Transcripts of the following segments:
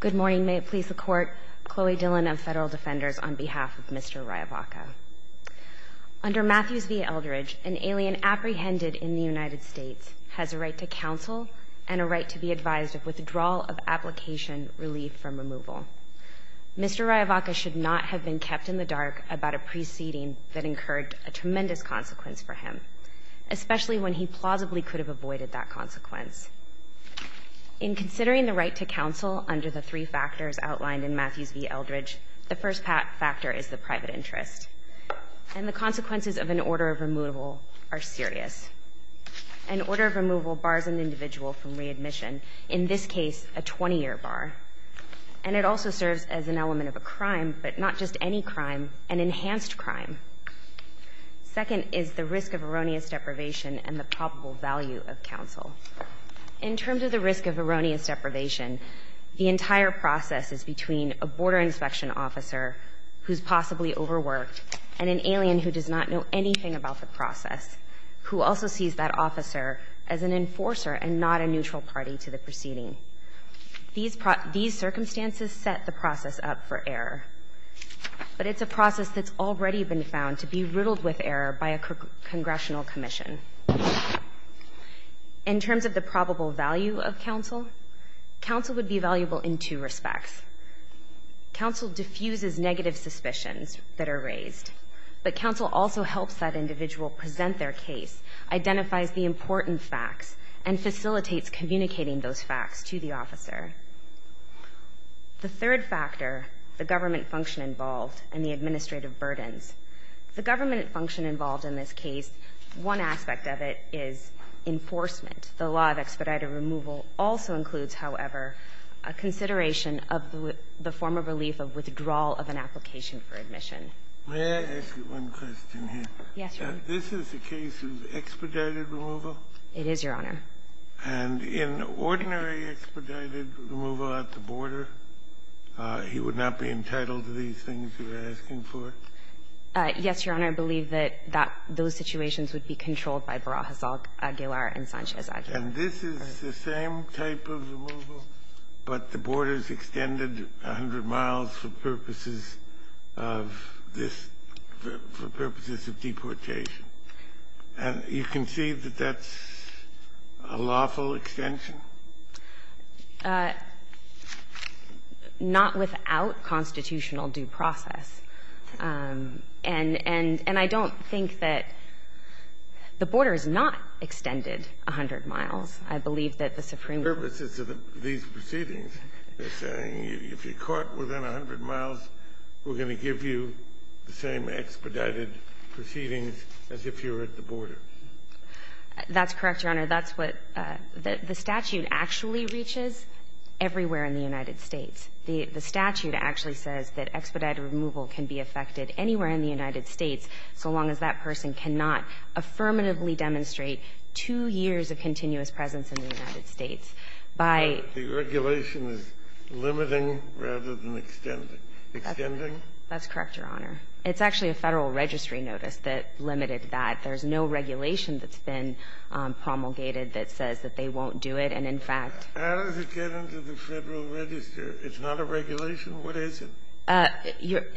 Good morning. May it please the Court, Chloe Dillon of Federal Defenders on behalf of Mr. Raya-Vaca. Under Matthews v. Eldridge, an alien apprehended in the United States has a right to counsel and a right to be advised of withdrawal of application relief from removal. Mr. Raya-Vaca should not have been kept in the dark about a preceding that incurred a tremendous consequence for him, especially when he plausibly could have avoided that consequence. In considering the right to counsel under the three factors outlined in Matthews v. Eldridge, the first factor is the private interest. And the consequences of an order of removal are serious. An order of removal bars an individual from readmission, in this case, a 20-year bar. And it also serves as an element of a crime, but not just any crime, an enhanced crime. Second is the risk of erroneous deprivation and the probable value of counsel. In terms of the risk of erroneous deprivation, the entire process is between a border inspection officer who's possibly overworked and an alien who does not know anything about the process, who also sees that officer as an enforcer and not a neutral party to the proceeding. These circumstances set the process up for error. But it's a process that's already been found to be riddled with error by a congressional commission. In terms of the probable value of counsel, counsel would be valuable in two respects. Counsel diffuses negative suspicions that are raised, but counsel also helps that individual present their case, identifies the important facts, and facilitates communicating those facts to the officer. The third factor, the government function involved and the administrative burdens. The government function involved in this case, one aspect of it is enforcement. The law of expedited removal also includes, however, a consideration of the form of relief of withdrawal of an application for admission. This is the case of expedited removal? It is, Your Honor. And in ordinary expedited removal at the border, he would not be entitled to these things you're asking for? Yes, Your Honor. I believe that those situations would be controlled by Barajas, Aguilar, and Sanchez-Aguilar. And this is the same type of removal, but the borders extended 100 miles for purposes of this, for purposes of deportation. And you can see that that's a lawful extension? Not without constitutional due process. And I don't think that the border is not extended 100 miles. I believe that the Supreme Court --- Purposes of these proceedings. They're saying if you're caught within 100 miles, we're going to give you the same expedited proceedings as if you were at the border. That's correct, Your Honor. That's what the statute actually reaches everywhere in the United States. The statute actually says that expedited removal can be effected anywhere in the United States so long as that person cannot affirmatively demonstrate two years of continuous presence in the United States by the regulation is limiting rather than extending. That's correct, Your Honor. It's actually a Federal registry notice that limited that. There's no regulation that's been promulgated that says that they won't do it. And, in fact -- How does it get into the Federal register? It's not a regulation? What is it?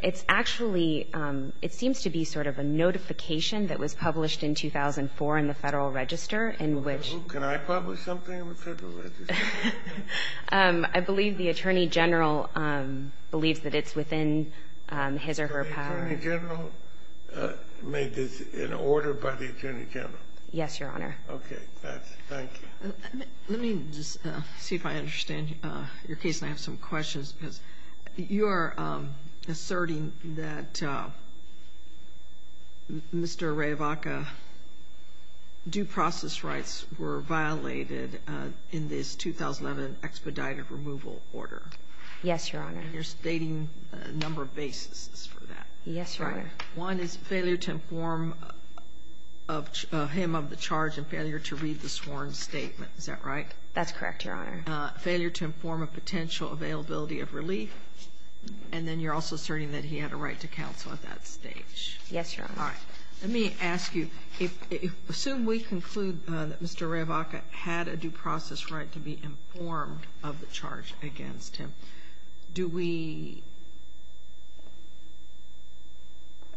It's actually, it seems to be sort of a notification that was published in 2004 in the Federal register in which -- Can I publish something in the Federal register? I believe the Attorney General believes that it's within his or her power. The Attorney General made this an order by the Attorney General? Yes, Your Honor. Okay. That's it. Thank you. Let me just see if I understand your case and I have some questions because you are asserting that Mr. Ray Vaca, due process rights were violated in this 2011 expedited removal order. Yes, Your Honor. And you're stating a number of bases for that. Yes, Your Honor. One is failure to inform him of the charge and failure to read the sworn statement. Is that right? That's correct, Your Honor. Failure to inform of potential availability of relief. And then you're also asserting that he had a right to counsel at that stage. Yes, Your Honor. All right. Let me ask you, assume we conclude that Mr. Ray Vaca had a due process right to be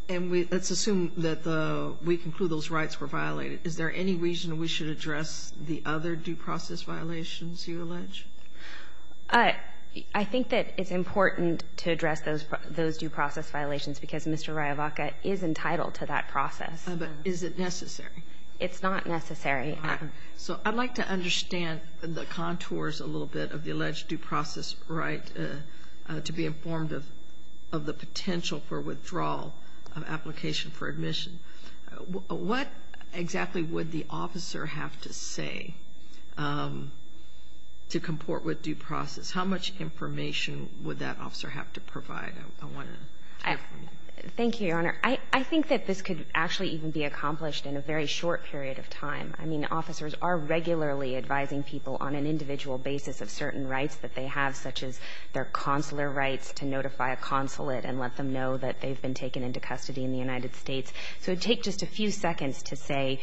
And let's assume that we conclude those rights were violated. Is there any reason we should address the other due process violations you allege? I think that it's important to address those due process violations because Mr. Ray Vaca is entitled to that process. But is it necessary? It's not necessary. So I'd like to understand the contours a little bit of the alleged due process right to be informed of the potential for withdrawal of application for admission. What exactly would the officer have to say to comport with due process? How much information would that officer have to provide? I want to hear from you. Thank you, Your Honor. I think that this could actually even be accomplished in a very short period of time. I mean, officers are regularly advising people on an individual basis of certain rights that they have, such as their consular rights to notify a consulate and let them know that they've been taken into custody in the United States. So it would take just a few seconds to say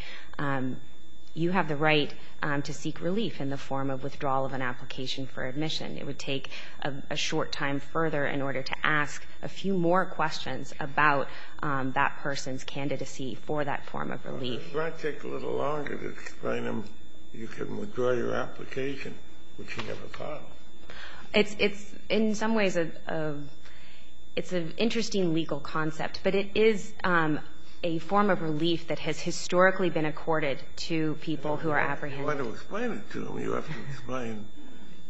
you have the right to seek relief in the form of withdrawal of an application for admission. It would take a short time further in order to ask a few more questions about that person's candidacy for that form of relief. It might take a little longer to explain them you can withdraw your application, which you never thought of. It's in some ways a – it's an interesting legal concept, but it is a form of relief that has historically been accorded to people who are apprehended. If you want to explain it to them, you have to explain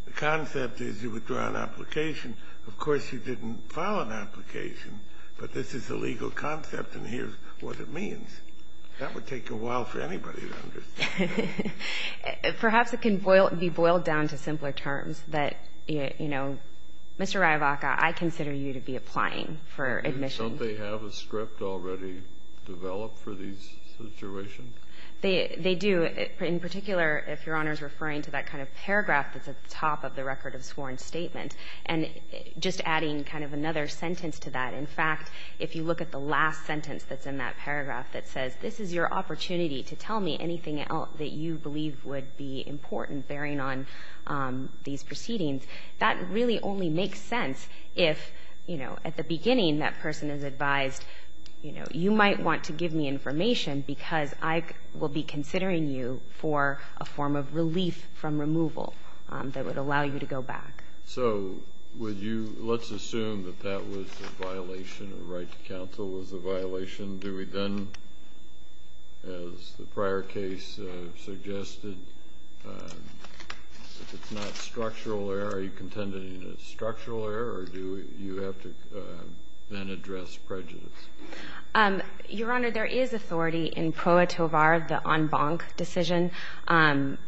the concept is you withdraw an application. Of course, you didn't file an application, but this is a legal concept, and here's what it means. That would take a while for anybody to understand. Perhaps it can boil – be boiled down to simpler terms that, you know, Mr. Riavaca, I consider you to be applying for admission. Don't they have a script already developed for these situations? They do. In particular, if Your Honor is referring to that kind of paragraph that's at the top of the record of sworn statement, and just adding kind of another sentence to that. In fact, if you look at the last sentence that's in that paragraph that says, this is your opportunity to tell me anything else that you believe would be important bearing on these proceedings, that really only makes sense if, you know, at the beginning that person is advised, you know, you might want to give me information because I will be considering you for a form of relief from removal that would allow you to go back. So would you – let's assume that that was a violation, a right to counsel was a violation. Do we then, as the prior case suggested, if it's not structural error, are you contending that it's structural error, or do you have to then address prejudice? Your Honor, there is authority in PROA-TOVAR, the en banc decision.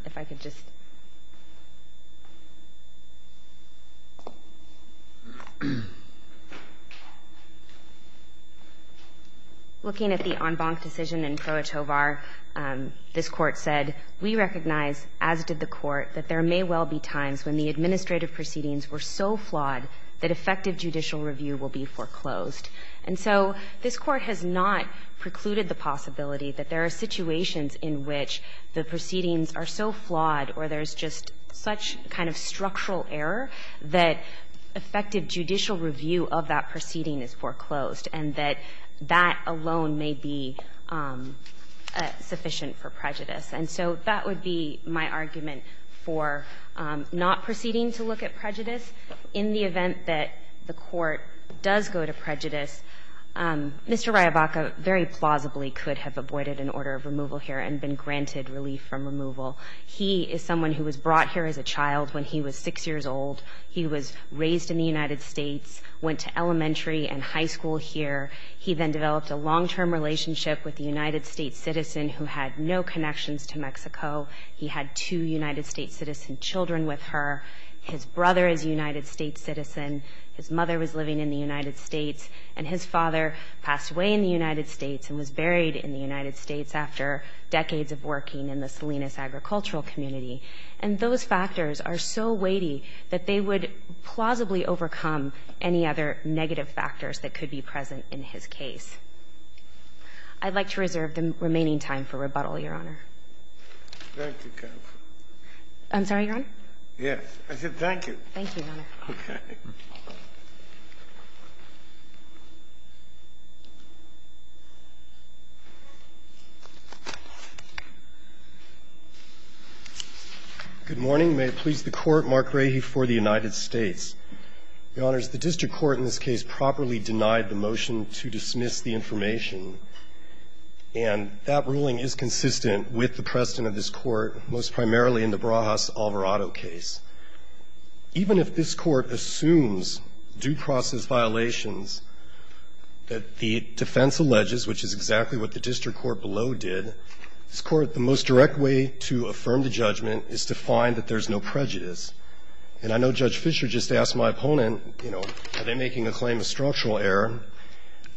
If I could just – looking at the en banc decision in PROA-TOVAR, this Court said, we recognize, as did the Court, that there may well be times when the administrative proceedings were so flawed that effective judicial review will be foreclosed. And so this Court has not precluded the possibility that there are situations in which the proceedings are so flawed or there's just such kind of structural error that effective judicial review of that proceeding is foreclosed, and that that alone may be sufficient for prejudice. And so that would be my argument for not proceeding to look at prejudice. In the event that the Court does go to prejudice, Mr. Ryabaka very plausibly could have avoided an order of removal here and been granted relief from removal. He is someone who was brought here as a child when he was 6 years old. He was raised in the United States, went to elementary and high school here. He then developed a long-term relationship with a United States citizen who had no connections to Mexico. He had two United States citizen children with her. His brother is a United States citizen. His mother was living in the United States. And his father passed away in the United States and was buried in the United States after decades of working in the Salinas agricultural community. And those factors are so weighty that they would plausibly overcome any other negative factors that could be present in his case. I'd like to reserve the remaining time for rebuttal, Your Honor. I'm sorry, Your Honor? Yes. I said thank you. Thank you, Your Honor. Okay. Good morning. May it please the Court, Mark Rahe for the United States. Your Honors, the district court in this case properly denied the motion to dismiss the information. And that ruling is consistent with the precedent of this Court, most primarily in the Barajas-Alvarado case. Even if this Court assumes due process violations that the defense alleges, which is exactly what the district court below did, this Court, the most direct way to affirm the judgment is to find that there's no prejudice. And I know Judge Fisher just asked my opponent, you know, are they making a claim of structural error?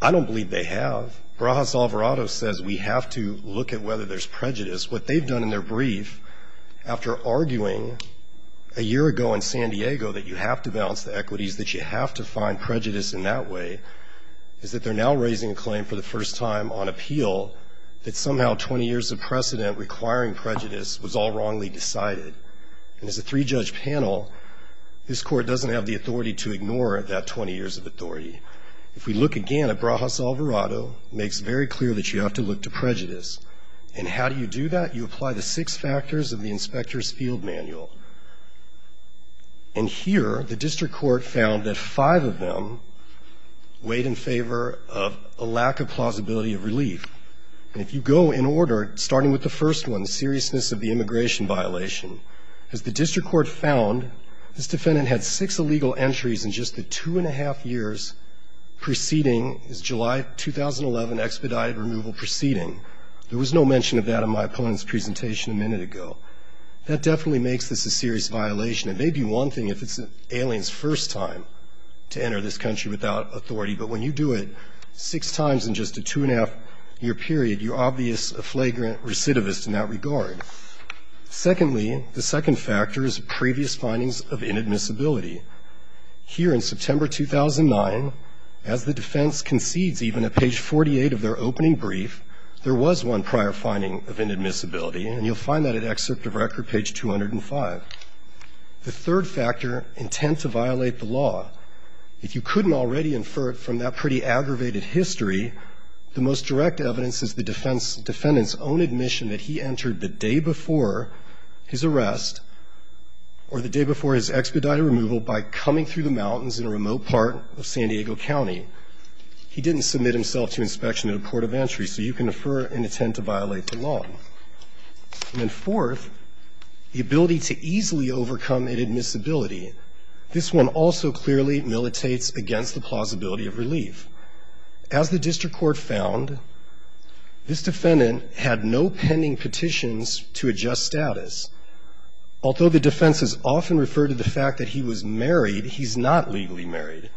I don't believe they have. Barajas-Alvarado says we have to look at whether there's prejudice. What they've done in their brief, after arguing a year ago in San Diego that you have to balance the equities, that you have to find prejudice in that way, is that they're now raising a claim for the first time on appeal that somehow 20 years of precedent requiring prejudice was all wrongly decided. And as a three-judge panel, this Court doesn't have the authority to ignore that 20 years of authority. If we look again at Barajas-Alvarado, it makes very clear that you have to look to prejudice. And how do you do that? You apply the six factors of the inspector's field manual. And here, the district court found that five of them weighed in favor of a lack of plausibility of relief. And if you go in order, starting with the first one, seriousness of the immigration violation, as the district court found, this defendant had six illegal entries in just the two and a half years preceding his July 2011 expedited removal proceeding. There was no mention of that in my opponent's presentation a minute ago. That definitely makes this a serious violation. It may be one thing if it's an alien's first time to enter this country without authority, but when you do it six times in just a two and a half year period, you're obviously a flagrant recidivist in that regard. Secondly, the second factor is previous findings of inadmissibility. Here in September 2009, as the defense concedes even at page 48 of their opening brief, there was one prior finding of inadmissibility, and you'll find that at Excerpt of Record, page 205. The third factor, intent to violate the law. If you couldn't already infer it from that pretty aggravated history, the most direct evidence is the defendant's own admission that he entered the day before his arrest or the day before his expedited removal by coming through the mountains in a remote part of San Diego County. He didn't submit himself to inspection at a court of entry, so you can infer an intent to violate the law. And then fourth, the ability to easily overcome inadmissibility. This one also clearly militates against the plausibility of relief. As the district court found, this defendant had no pending petitions to adjust status. Although the defense has often referred to the fact that he was married, he's not legally married.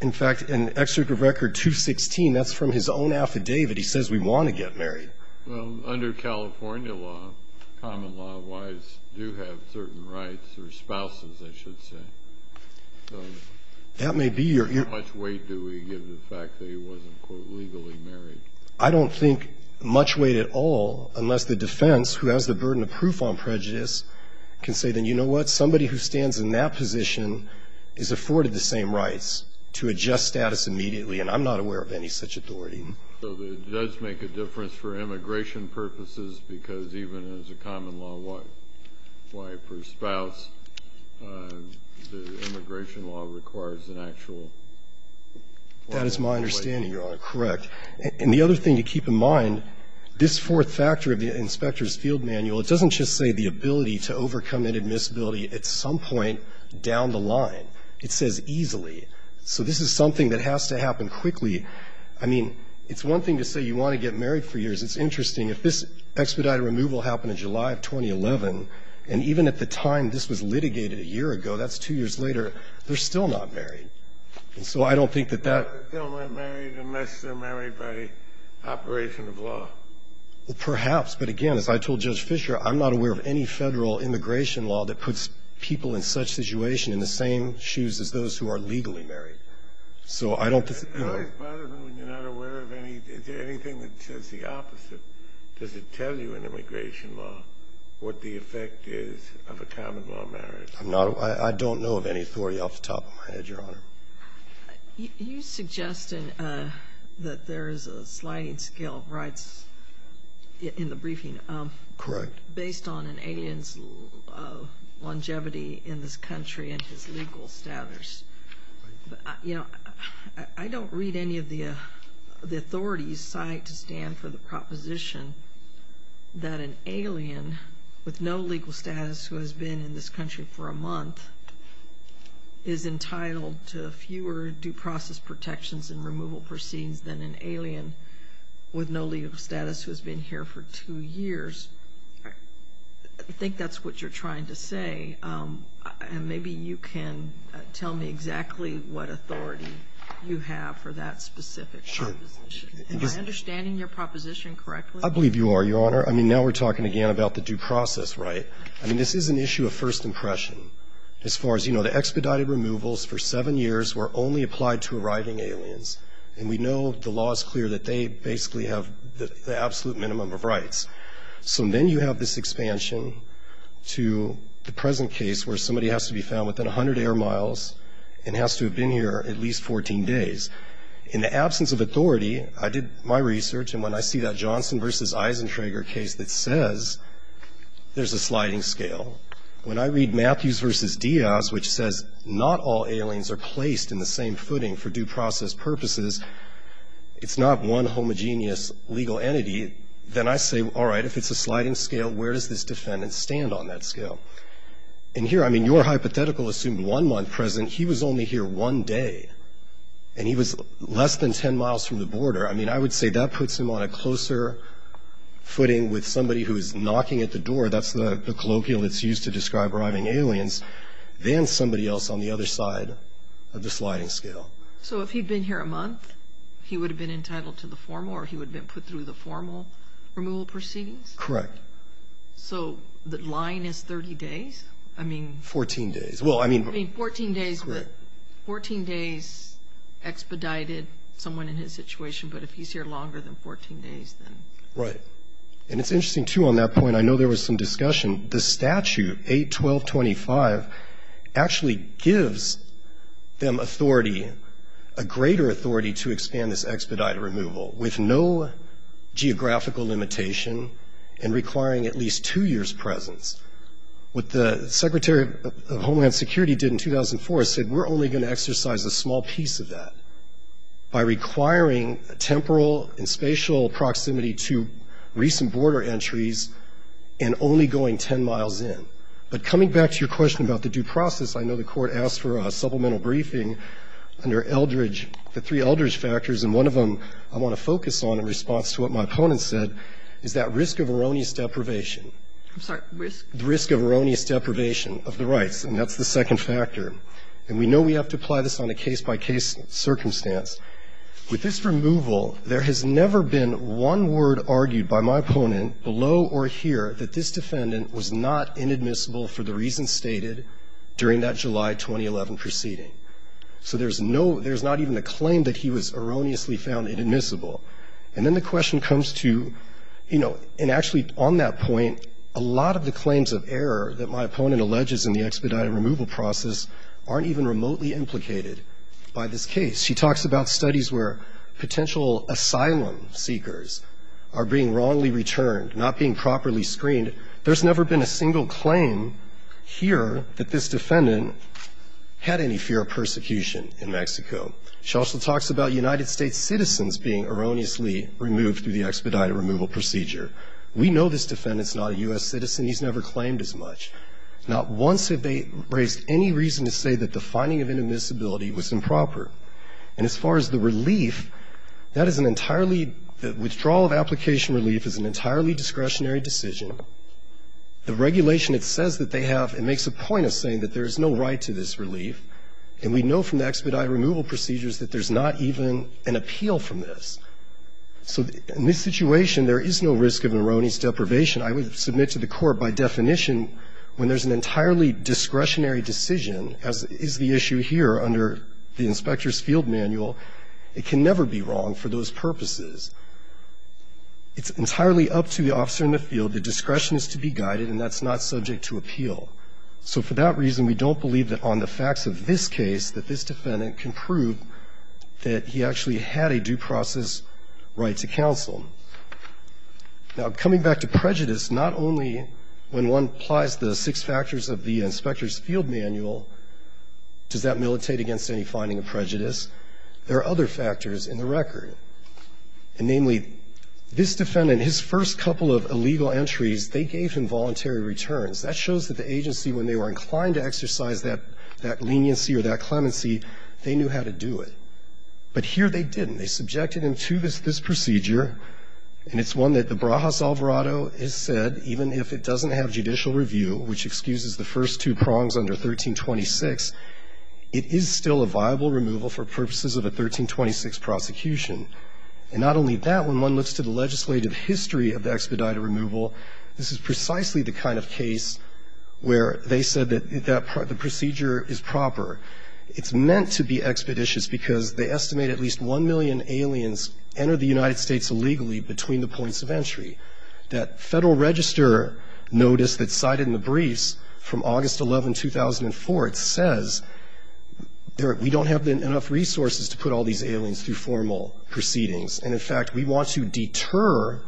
In fact, in Excerpt of Record 216, that's from his own affidavit. He says, we want to get married. Well, under California law, common law, wives do have certain rights, or spouses, I should say. That may be your view. How much weight do we give the fact that he wasn't, quote, legally married? I don't think much weight at all, unless the defense, who has the burden of proof on prejudice, can say, then you know what? Somebody who stands in that position is afforded the same rights to adjust status immediately. And I'm not aware of any such authority. So it does make a difference for immigration purposes, because even as a common law wife or spouse, the immigration law requires an actual weight. That is my understanding, Your Honor. Correct. And the other thing to keep in mind, this fourth factor of the inspector's field manual, it doesn't just say the ability to overcome inadmissibility at some point down the line. It says easily. So this is something that has to happen quickly. I mean, it's one thing to say you want to get married for years. It's interesting. If this expedited removal happened in July of 2011, and even at the time this was litigated a year ago, that's two years later, they're still not married. And so I don't think that that That they're still not married unless they're married by operation of law. Well, perhaps. But, again, as I told Judge Fisher, I'm not aware of any federal immigration law that puts people in such situation in the same shoes as those who are legally married. So I don't It always bothers me when you're not aware of anything. Is there anything that says the opposite? Does it tell you in immigration law what the effect is of a common law marriage? I don't know of any authority off the top of my head, Your Honor. You suggested that there is a sliding scale of rights in the briefing. Correct. Based on an alien's longevity in this country and his legal status. You know, I don't read any of the authorities' site to stand for the proposition that an alien with no legal status who has been in this country for a month is entitled to fewer due process protections and removal proceedings than an alien with no legal status who has been here for two years. I think that's what you're trying to say. And maybe you can tell me exactly what authority you have for that specific proposition. Sure. Am I understanding your proposition correctly? I believe you are, Your Honor. I mean, now we're talking again about the due process, right? I mean, this is an issue of first impression. As far as you know, the expedited removals for seven years were only applied to arriving aliens, and we know the law is clear that they basically have the absolute minimum of rights. So then you have this expansion to the present case where somebody has to be found within 100 air miles and has to have been here at least 14 days. In the absence of authority, I did my research, and when I see that Johnson v. Eisentrager case that says there's a sliding scale, when I read Matthews v. Diaz, which says not all aliens are placed in the same footing for due process purposes, it's not one homogeneous legal entity. Then I say, all right, if it's a sliding scale, where does this defendant stand on that scale? And here, I mean, your hypothetical assumed one month present. He was only here one day, and he was less than 10 miles from the border. I mean, I would say that puts him on a closer footing with somebody who is knocking at the door. That's the colloquial that's used to describe arriving aliens than somebody else on the other side of the sliding scale. So if he'd been here a month, he would have been entitled to the formal, or he would have been put through the formal removal proceedings? Correct. So the line is 30 days? Fourteen days. Fourteen days expedited someone in his situation, but if he's here longer than 14 days, then? Right. And it's interesting, too, on that point. I know there was some discussion. The statute, 8.12.25, actually gives them authority, a greater authority to expand this expedited removal, with no geographical limitation and requiring at least two years' presence. What the Secretary of Homeland Security did in 2004 said, we're only going to exercise a small piece of that by requiring temporal and spatial proximity to recent border entries and only going 10 miles in. But coming back to your question about the due process, I know the Court asked for a supplemental briefing under Eldridge, the three Eldridge factors, and one of them I want to focus on in response to what my opponent said is that risk of erroneous deprivation. I'm sorry, risk? The risk of erroneous deprivation of the rights, and that's the second factor. And we know we have to apply this on a case-by-case circumstance. With this removal, there has never been one word argued by my opponent below or here that this defendant was not inadmissible for the reasons stated during that July 2011 proceeding. So there's no, there's not even a claim that he was erroneously found inadmissible. And then the question comes to, you know, and actually on that point, a lot of the claims of error that my opponent alleges in the expedited removal process aren't even remotely implicated by this case. She talks about studies where potential asylum seekers are being wrongly returned, not being properly screened. There's never been a single claim here that this defendant had any fear of persecution in Mexico. She also talks about United States citizens being erroneously removed through the expedited removal procedure. We know this defendant's not a U.S. citizen. He's never claimed as much. Not once have they raised any reason to say that the finding of inadmissibility was improper. And as far as the relief, that is an entirely, the withdrawal of application relief is an entirely discretionary decision. The regulation, it says that they have, it makes a point of saying that there is no right to this relief. And we know from the expedited removal procedures that there's not even an appeal from this. So in this situation, there is no risk of erroneous deprivation. I would submit to the Court by definition when there's an entirely discretionary decision, as is the issue here under the Inspector's Field Manual, it can never be wrong for those purposes. It's entirely up to the officer in the field. The discretion is to be guided, and that's not subject to appeal. So for that reason, we don't believe that on the facts of this case that this defendant can prove that he actually had a due process right to counsel. Now, coming back to prejudice, not only when one applies the six factors of the Inspector's Field Manual, does that militate against any finding of prejudice? There are other factors in the record. And namely, this defendant, his first couple of illegal entries, they gave him voluntary returns. That shows that the agency, when they were inclined to exercise that leniency or that clemency, they knew how to do it. But here they didn't. They subjected him to this procedure, and it's one that the Brajas Alvarado has said, even if it doesn't have judicial review, which excuses the first two prongs under 1326, it is still a viable removal for purposes of a 1326 prosecution. And not only that, when one looks to the legislative history of the expedited removal, this is precisely the kind of case where they said that the procedure is proper, it's meant to be expeditious because they estimate at least 1 million aliens enter the United States illegally between the points of entry. That Federal Register notice that's cited in the briefs from August 11, 2004, it says we don't have enough resources to put all these aliens through formal proceedings. And in fact, we want to deter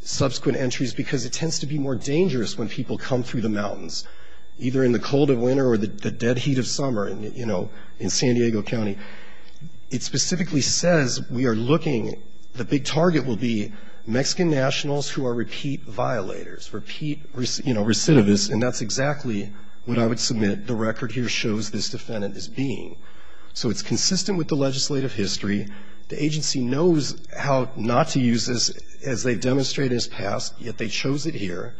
subsequent entries because it tends to be more dangerous when people come through the mountains. Either in the cold of winter or the dead heat of summer, you know, in San Diego County. It specifically says we are looking, the big target will be Mexican nationals who are repeat violators, repeat, you know, recidivists, and that's exactly what I would submit. The record here shows this defendant as being. So it's consistent with the legislative history. The agency knows how not to use this, as they've demonstrated in the past, yet they chose it here.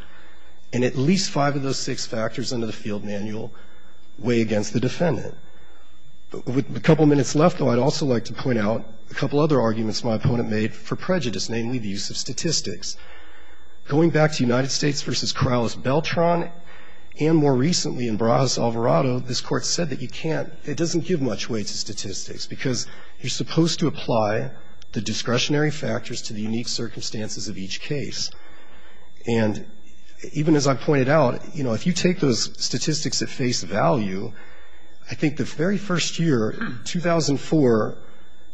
And at least five of those six factors under the field manual weigh against the defendant. With a couple minutes left, though, I'd also like to point out a couple other arguments my opponent made for prejudice, namely the use of statistics. Going back to United States v. Corrales-Beltran and more recently in Barajas-Alvarado, this Court said that you can't, it doesn't give much weight to statistics because you're supposed to apply the discretionary factors to the unique circumstances of each case. And even as I pointed out, you know, if you take those statistics at face value, I think the very first year, 2004,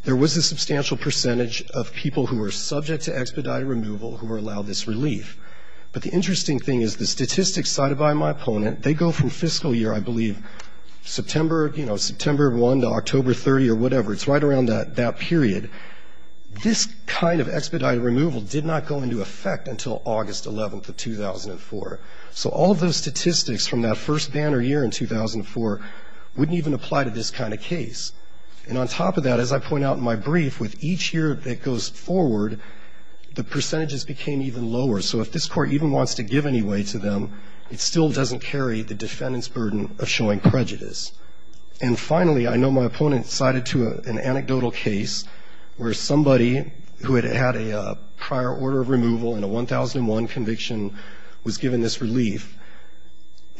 there was a substantial percentage of people who were subject to expedited removal who were allowed this relief. But the interesting thing is the statistics cited by my opponent, they go from fiscal year, I believe, September, you know, September 1 to October 30 or whatever. It's right around that period. This kind of expedited removal did not go into effect until August 11 of 2004. So all of those statistics from that first banner year in 2004 wouldn't even apply to this kind of case. And on top of that, as I point out in my brief, with each year that goes forward, the percentages became even lower. So if this Court even wants to give any weight to them, it still doesn't carry the defendant's burden of showing prejudice. And finally, I know my opponent cited to an anecdotal case where somebody who had had a prior order of removal and a 1001 conviction was given this relief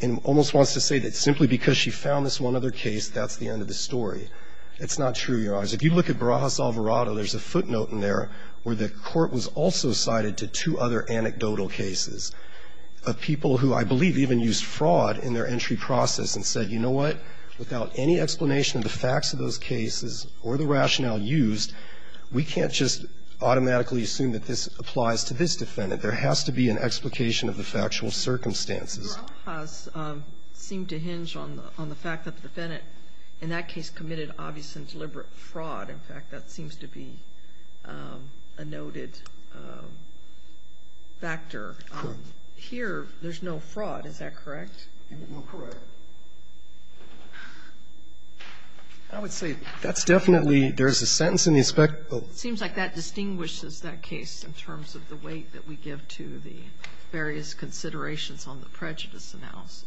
and almost wants to say that simply because she found this one other case, that's the end of the story. It's not true, Your Honors. If you look at Barajas-Alvarado, there's a footnote in there where the Court was also cited to two other anecdotal cases of people who I believe even used fraud in their case. Without any explanation of the facts of those cases or the rationale used, we can't just automatically assume that this applies to this defendant. There has to be an explication of the factual circumstances. Barajas seemed to hinge on the fact that the defendant in that case committed obvious and deliberate fraud. In fact, that seems to be a noted factor. Here, there's no fraud. Is that correct? You are correct. I would say that's definitely, there's a sentence in the Inspectorate. It seems like that distinguishes that case in terms of the weight that we give to the various considerations on the prejudice analysis.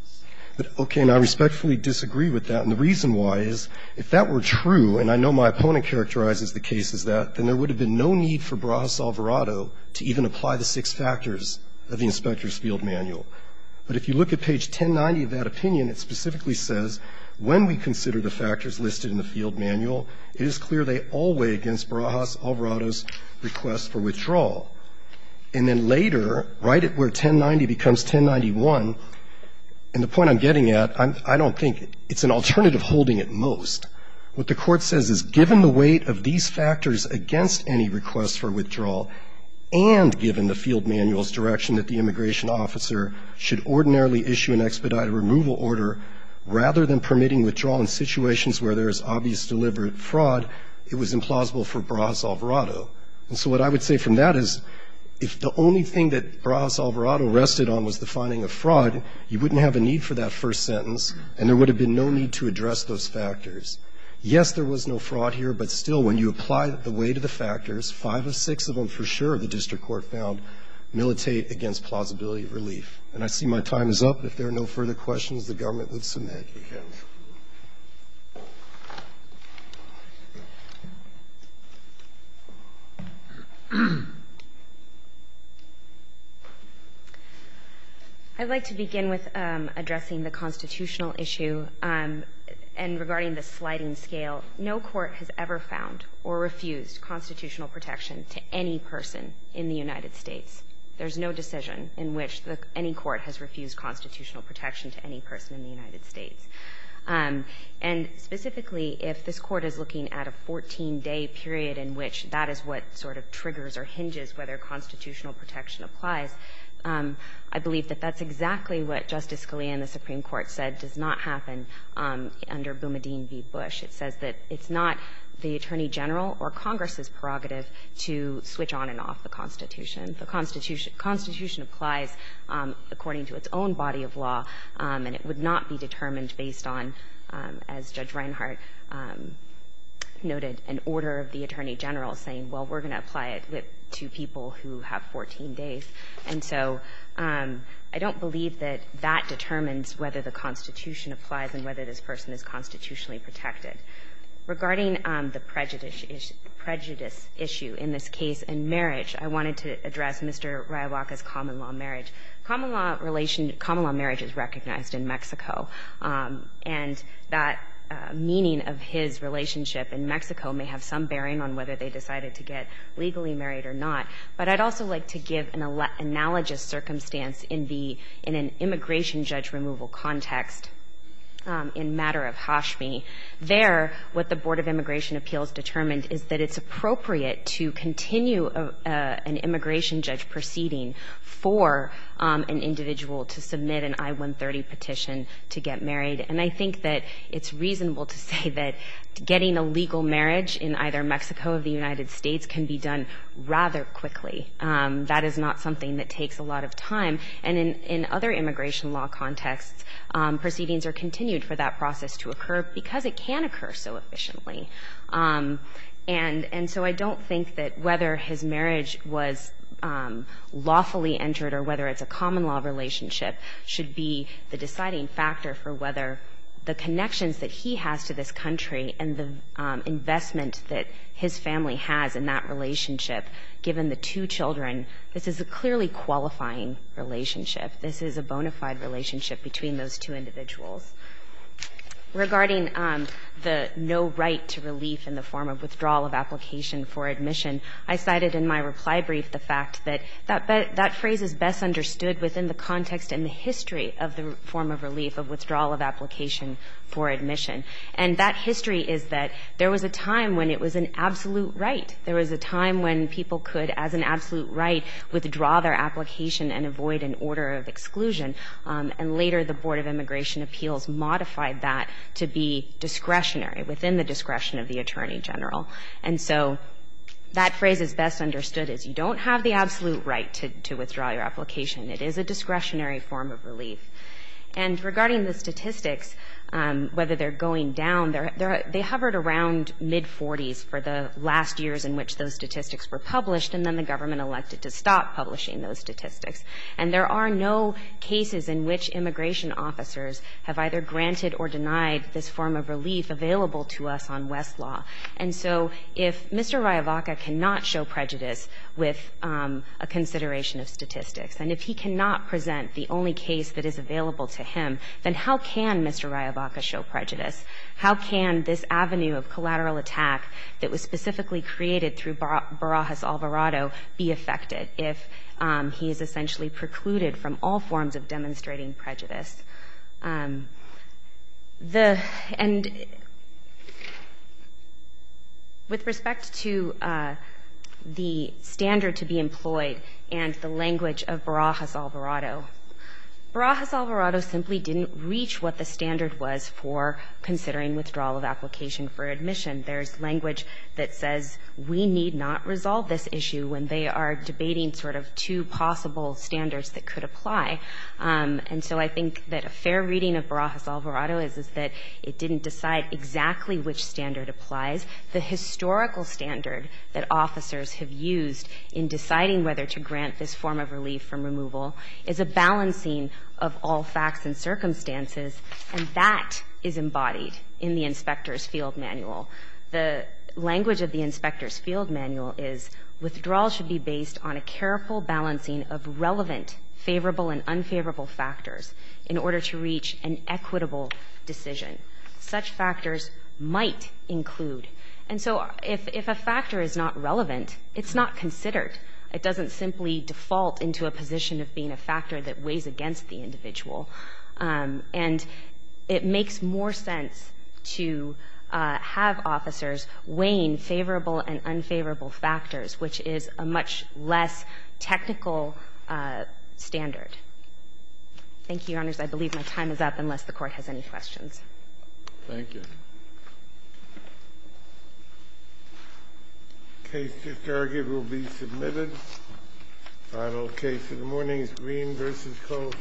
Okay. And I respectfully disagree with that. And the reason why is if that were true, and I know my opponent characterizes the case as that, then there would have been no need for Barajas-Alvarado to even apply the six factors of the Inspector's Field Manual. But if you look at page 1090 of that opinion, it specifically says, when we consider the factors listed in the Field Manual, it is clear they all weigh against Barajas-Alvarado's request for withdrawal. And then later, right at where 1090 becomes 1091, and the point I'm getting at, I don't think it's an alternative holding at most. What the Court says is given the weight of these factors against any request for withdrawal and given the Field Manual's direction that the immigration officer should ordinarily issue an expedited removal order, rather than permitting withdrawal in situations where there is obvious deliberate fraud, it was implausible for Barajas-Alvarado. And so what I would say from that is, if the only thing that Barajas-Alvarado rested on was the finding of fraud, you wouldn't have a need for that first sentence and there would have been no need to address those factors. Yes, there was no fraud here, but still, when you apply the weight of the factors, five of six of them for sure, the district court found, militate against plausibility of relief. And I see my time is up. If there are no further questions, the government would submit. Thank you, counsel. I'd like to begin with addressing the constitutional issue and regarding the sliding scale. No court has ever found or refused constitutional protection to any person in the United States. There's no decision in which any court has refused constitutional protection to any person in the United States. And specifically, if this Court is looking at a 14-day period in which that is what sort of triggers or hinges whether constitutional protection applies, I believe that that's exactly what Justice Scalia in the Supreme Court said does not happen under Boumediene v. Bush. It says that it's not the attorney general or Congress's prerogative to switch on and off the Constitution. The Constitution applies according to its own body of law, and it would not be determined based on, as Judge Reinhart noted, an order of the attorney general saying, well, we're going to apply it to people who have 14 days. And so I don't believe that that determines whether the Constitution applies and whether this person is constitutionally protected. Regarding the prejudice issue in this case in marriage, I wanted to address Mr. Ryabaka's common-law marriage. And that meaning of his relationship in Mexico may have some bearing on whether they decided to get legally married or not. But I'd also like to give an analogous circumstance in the — in an immigration judge removal context in Matter of Hashmi. There, what the Board of Immigration Appeals determined is that it's appropriate to continue an immigration judge proceeding for an individual to submit an I-130 petition to get married. And I think that it's reasonable to say that getting a legal marriage in either Mexico or the United States can be done rather quickly. That is not something that takes a lot of time. And in other immigration law contexts, proceedings are continued for that process to occur because it can occur so efficiently. And so I don't think that whether his marriage was lawfully entered or whether it's a common-law relationship should be the deciding factor for whether the connections that he has to this country and the investment that his family has in that relationship, given the two children, this is a clearly qualifying relationship. This is a bona fide relationship between those two individuals. Regarding the no right to relief in the form of withdrawal of application for admission, I cited in my reply brief the fact that that phrase is best understood within the context and the history of the form of relief of withdrawal of application for admission. And that history is that there was a time when it was an absolute right. There was a time when people could, as an absolute right, withdraw their application and avoid an order of exclusion. And later, the Board of Immigration Appeals modified that to be discretionary, within the discretion of the Attorney General. And so that phrase is best understood as you don't have the absolute right to withdraw your application. It is a discretionary form of relief. And regarding the statistics, whether they're going down, they hovered around mid-40s for the last years in which those statistics were published, and then the government elected to stop publishing those statistics. And there are no cases in which immigration officers have either granted or denied this form of relief available to us on West law. And so if Mr. Rayavaca cannot show prejudice with a consideration of statistics, and if he cannot present the only case that is available to him, then how can Mr. Rayavaca show prejudice? How can this avenue of collateral attack that was specifically created through Barajas Alvarado be affected if he is essentially precluded from all forms of demonstrating prejudice? And with respect to the standard to be employed and the language of Barajas Alvarado, Barajas Alvarado simply didn't reach what the standard was for considering withdrawal of application for admission. There is language that says we need not resolve this issue when they are debating sort of two possible standards that could apply. And so I think that a fair reading of Barajas Alvarado is that it didn't decide exactly which standard applies. The historical standard that officers have used in deciding whether to grant this form of relief from removal is a balancing of all facts and circumstances, and that is embodied in the inspector's field manual. The language of the inspector's field manual is withdrawal should be based on a careful balancing of relevant favorable and unfavorable factors in order to reach an equitable decision. Such factors might include. And so if a factor is not relevant, it's not considered. It doesn't simply default into a position of being a factor that weighs against the individual. And it makes more sense to have officers weighing favorable and unfavorable factors, which is a much less technical standard. Thank you, Your Honors. I believe my time is up, unless the Court has any questions. Thank you. The case just argued will be submitted. Final case of the morning is Green v. Colvin.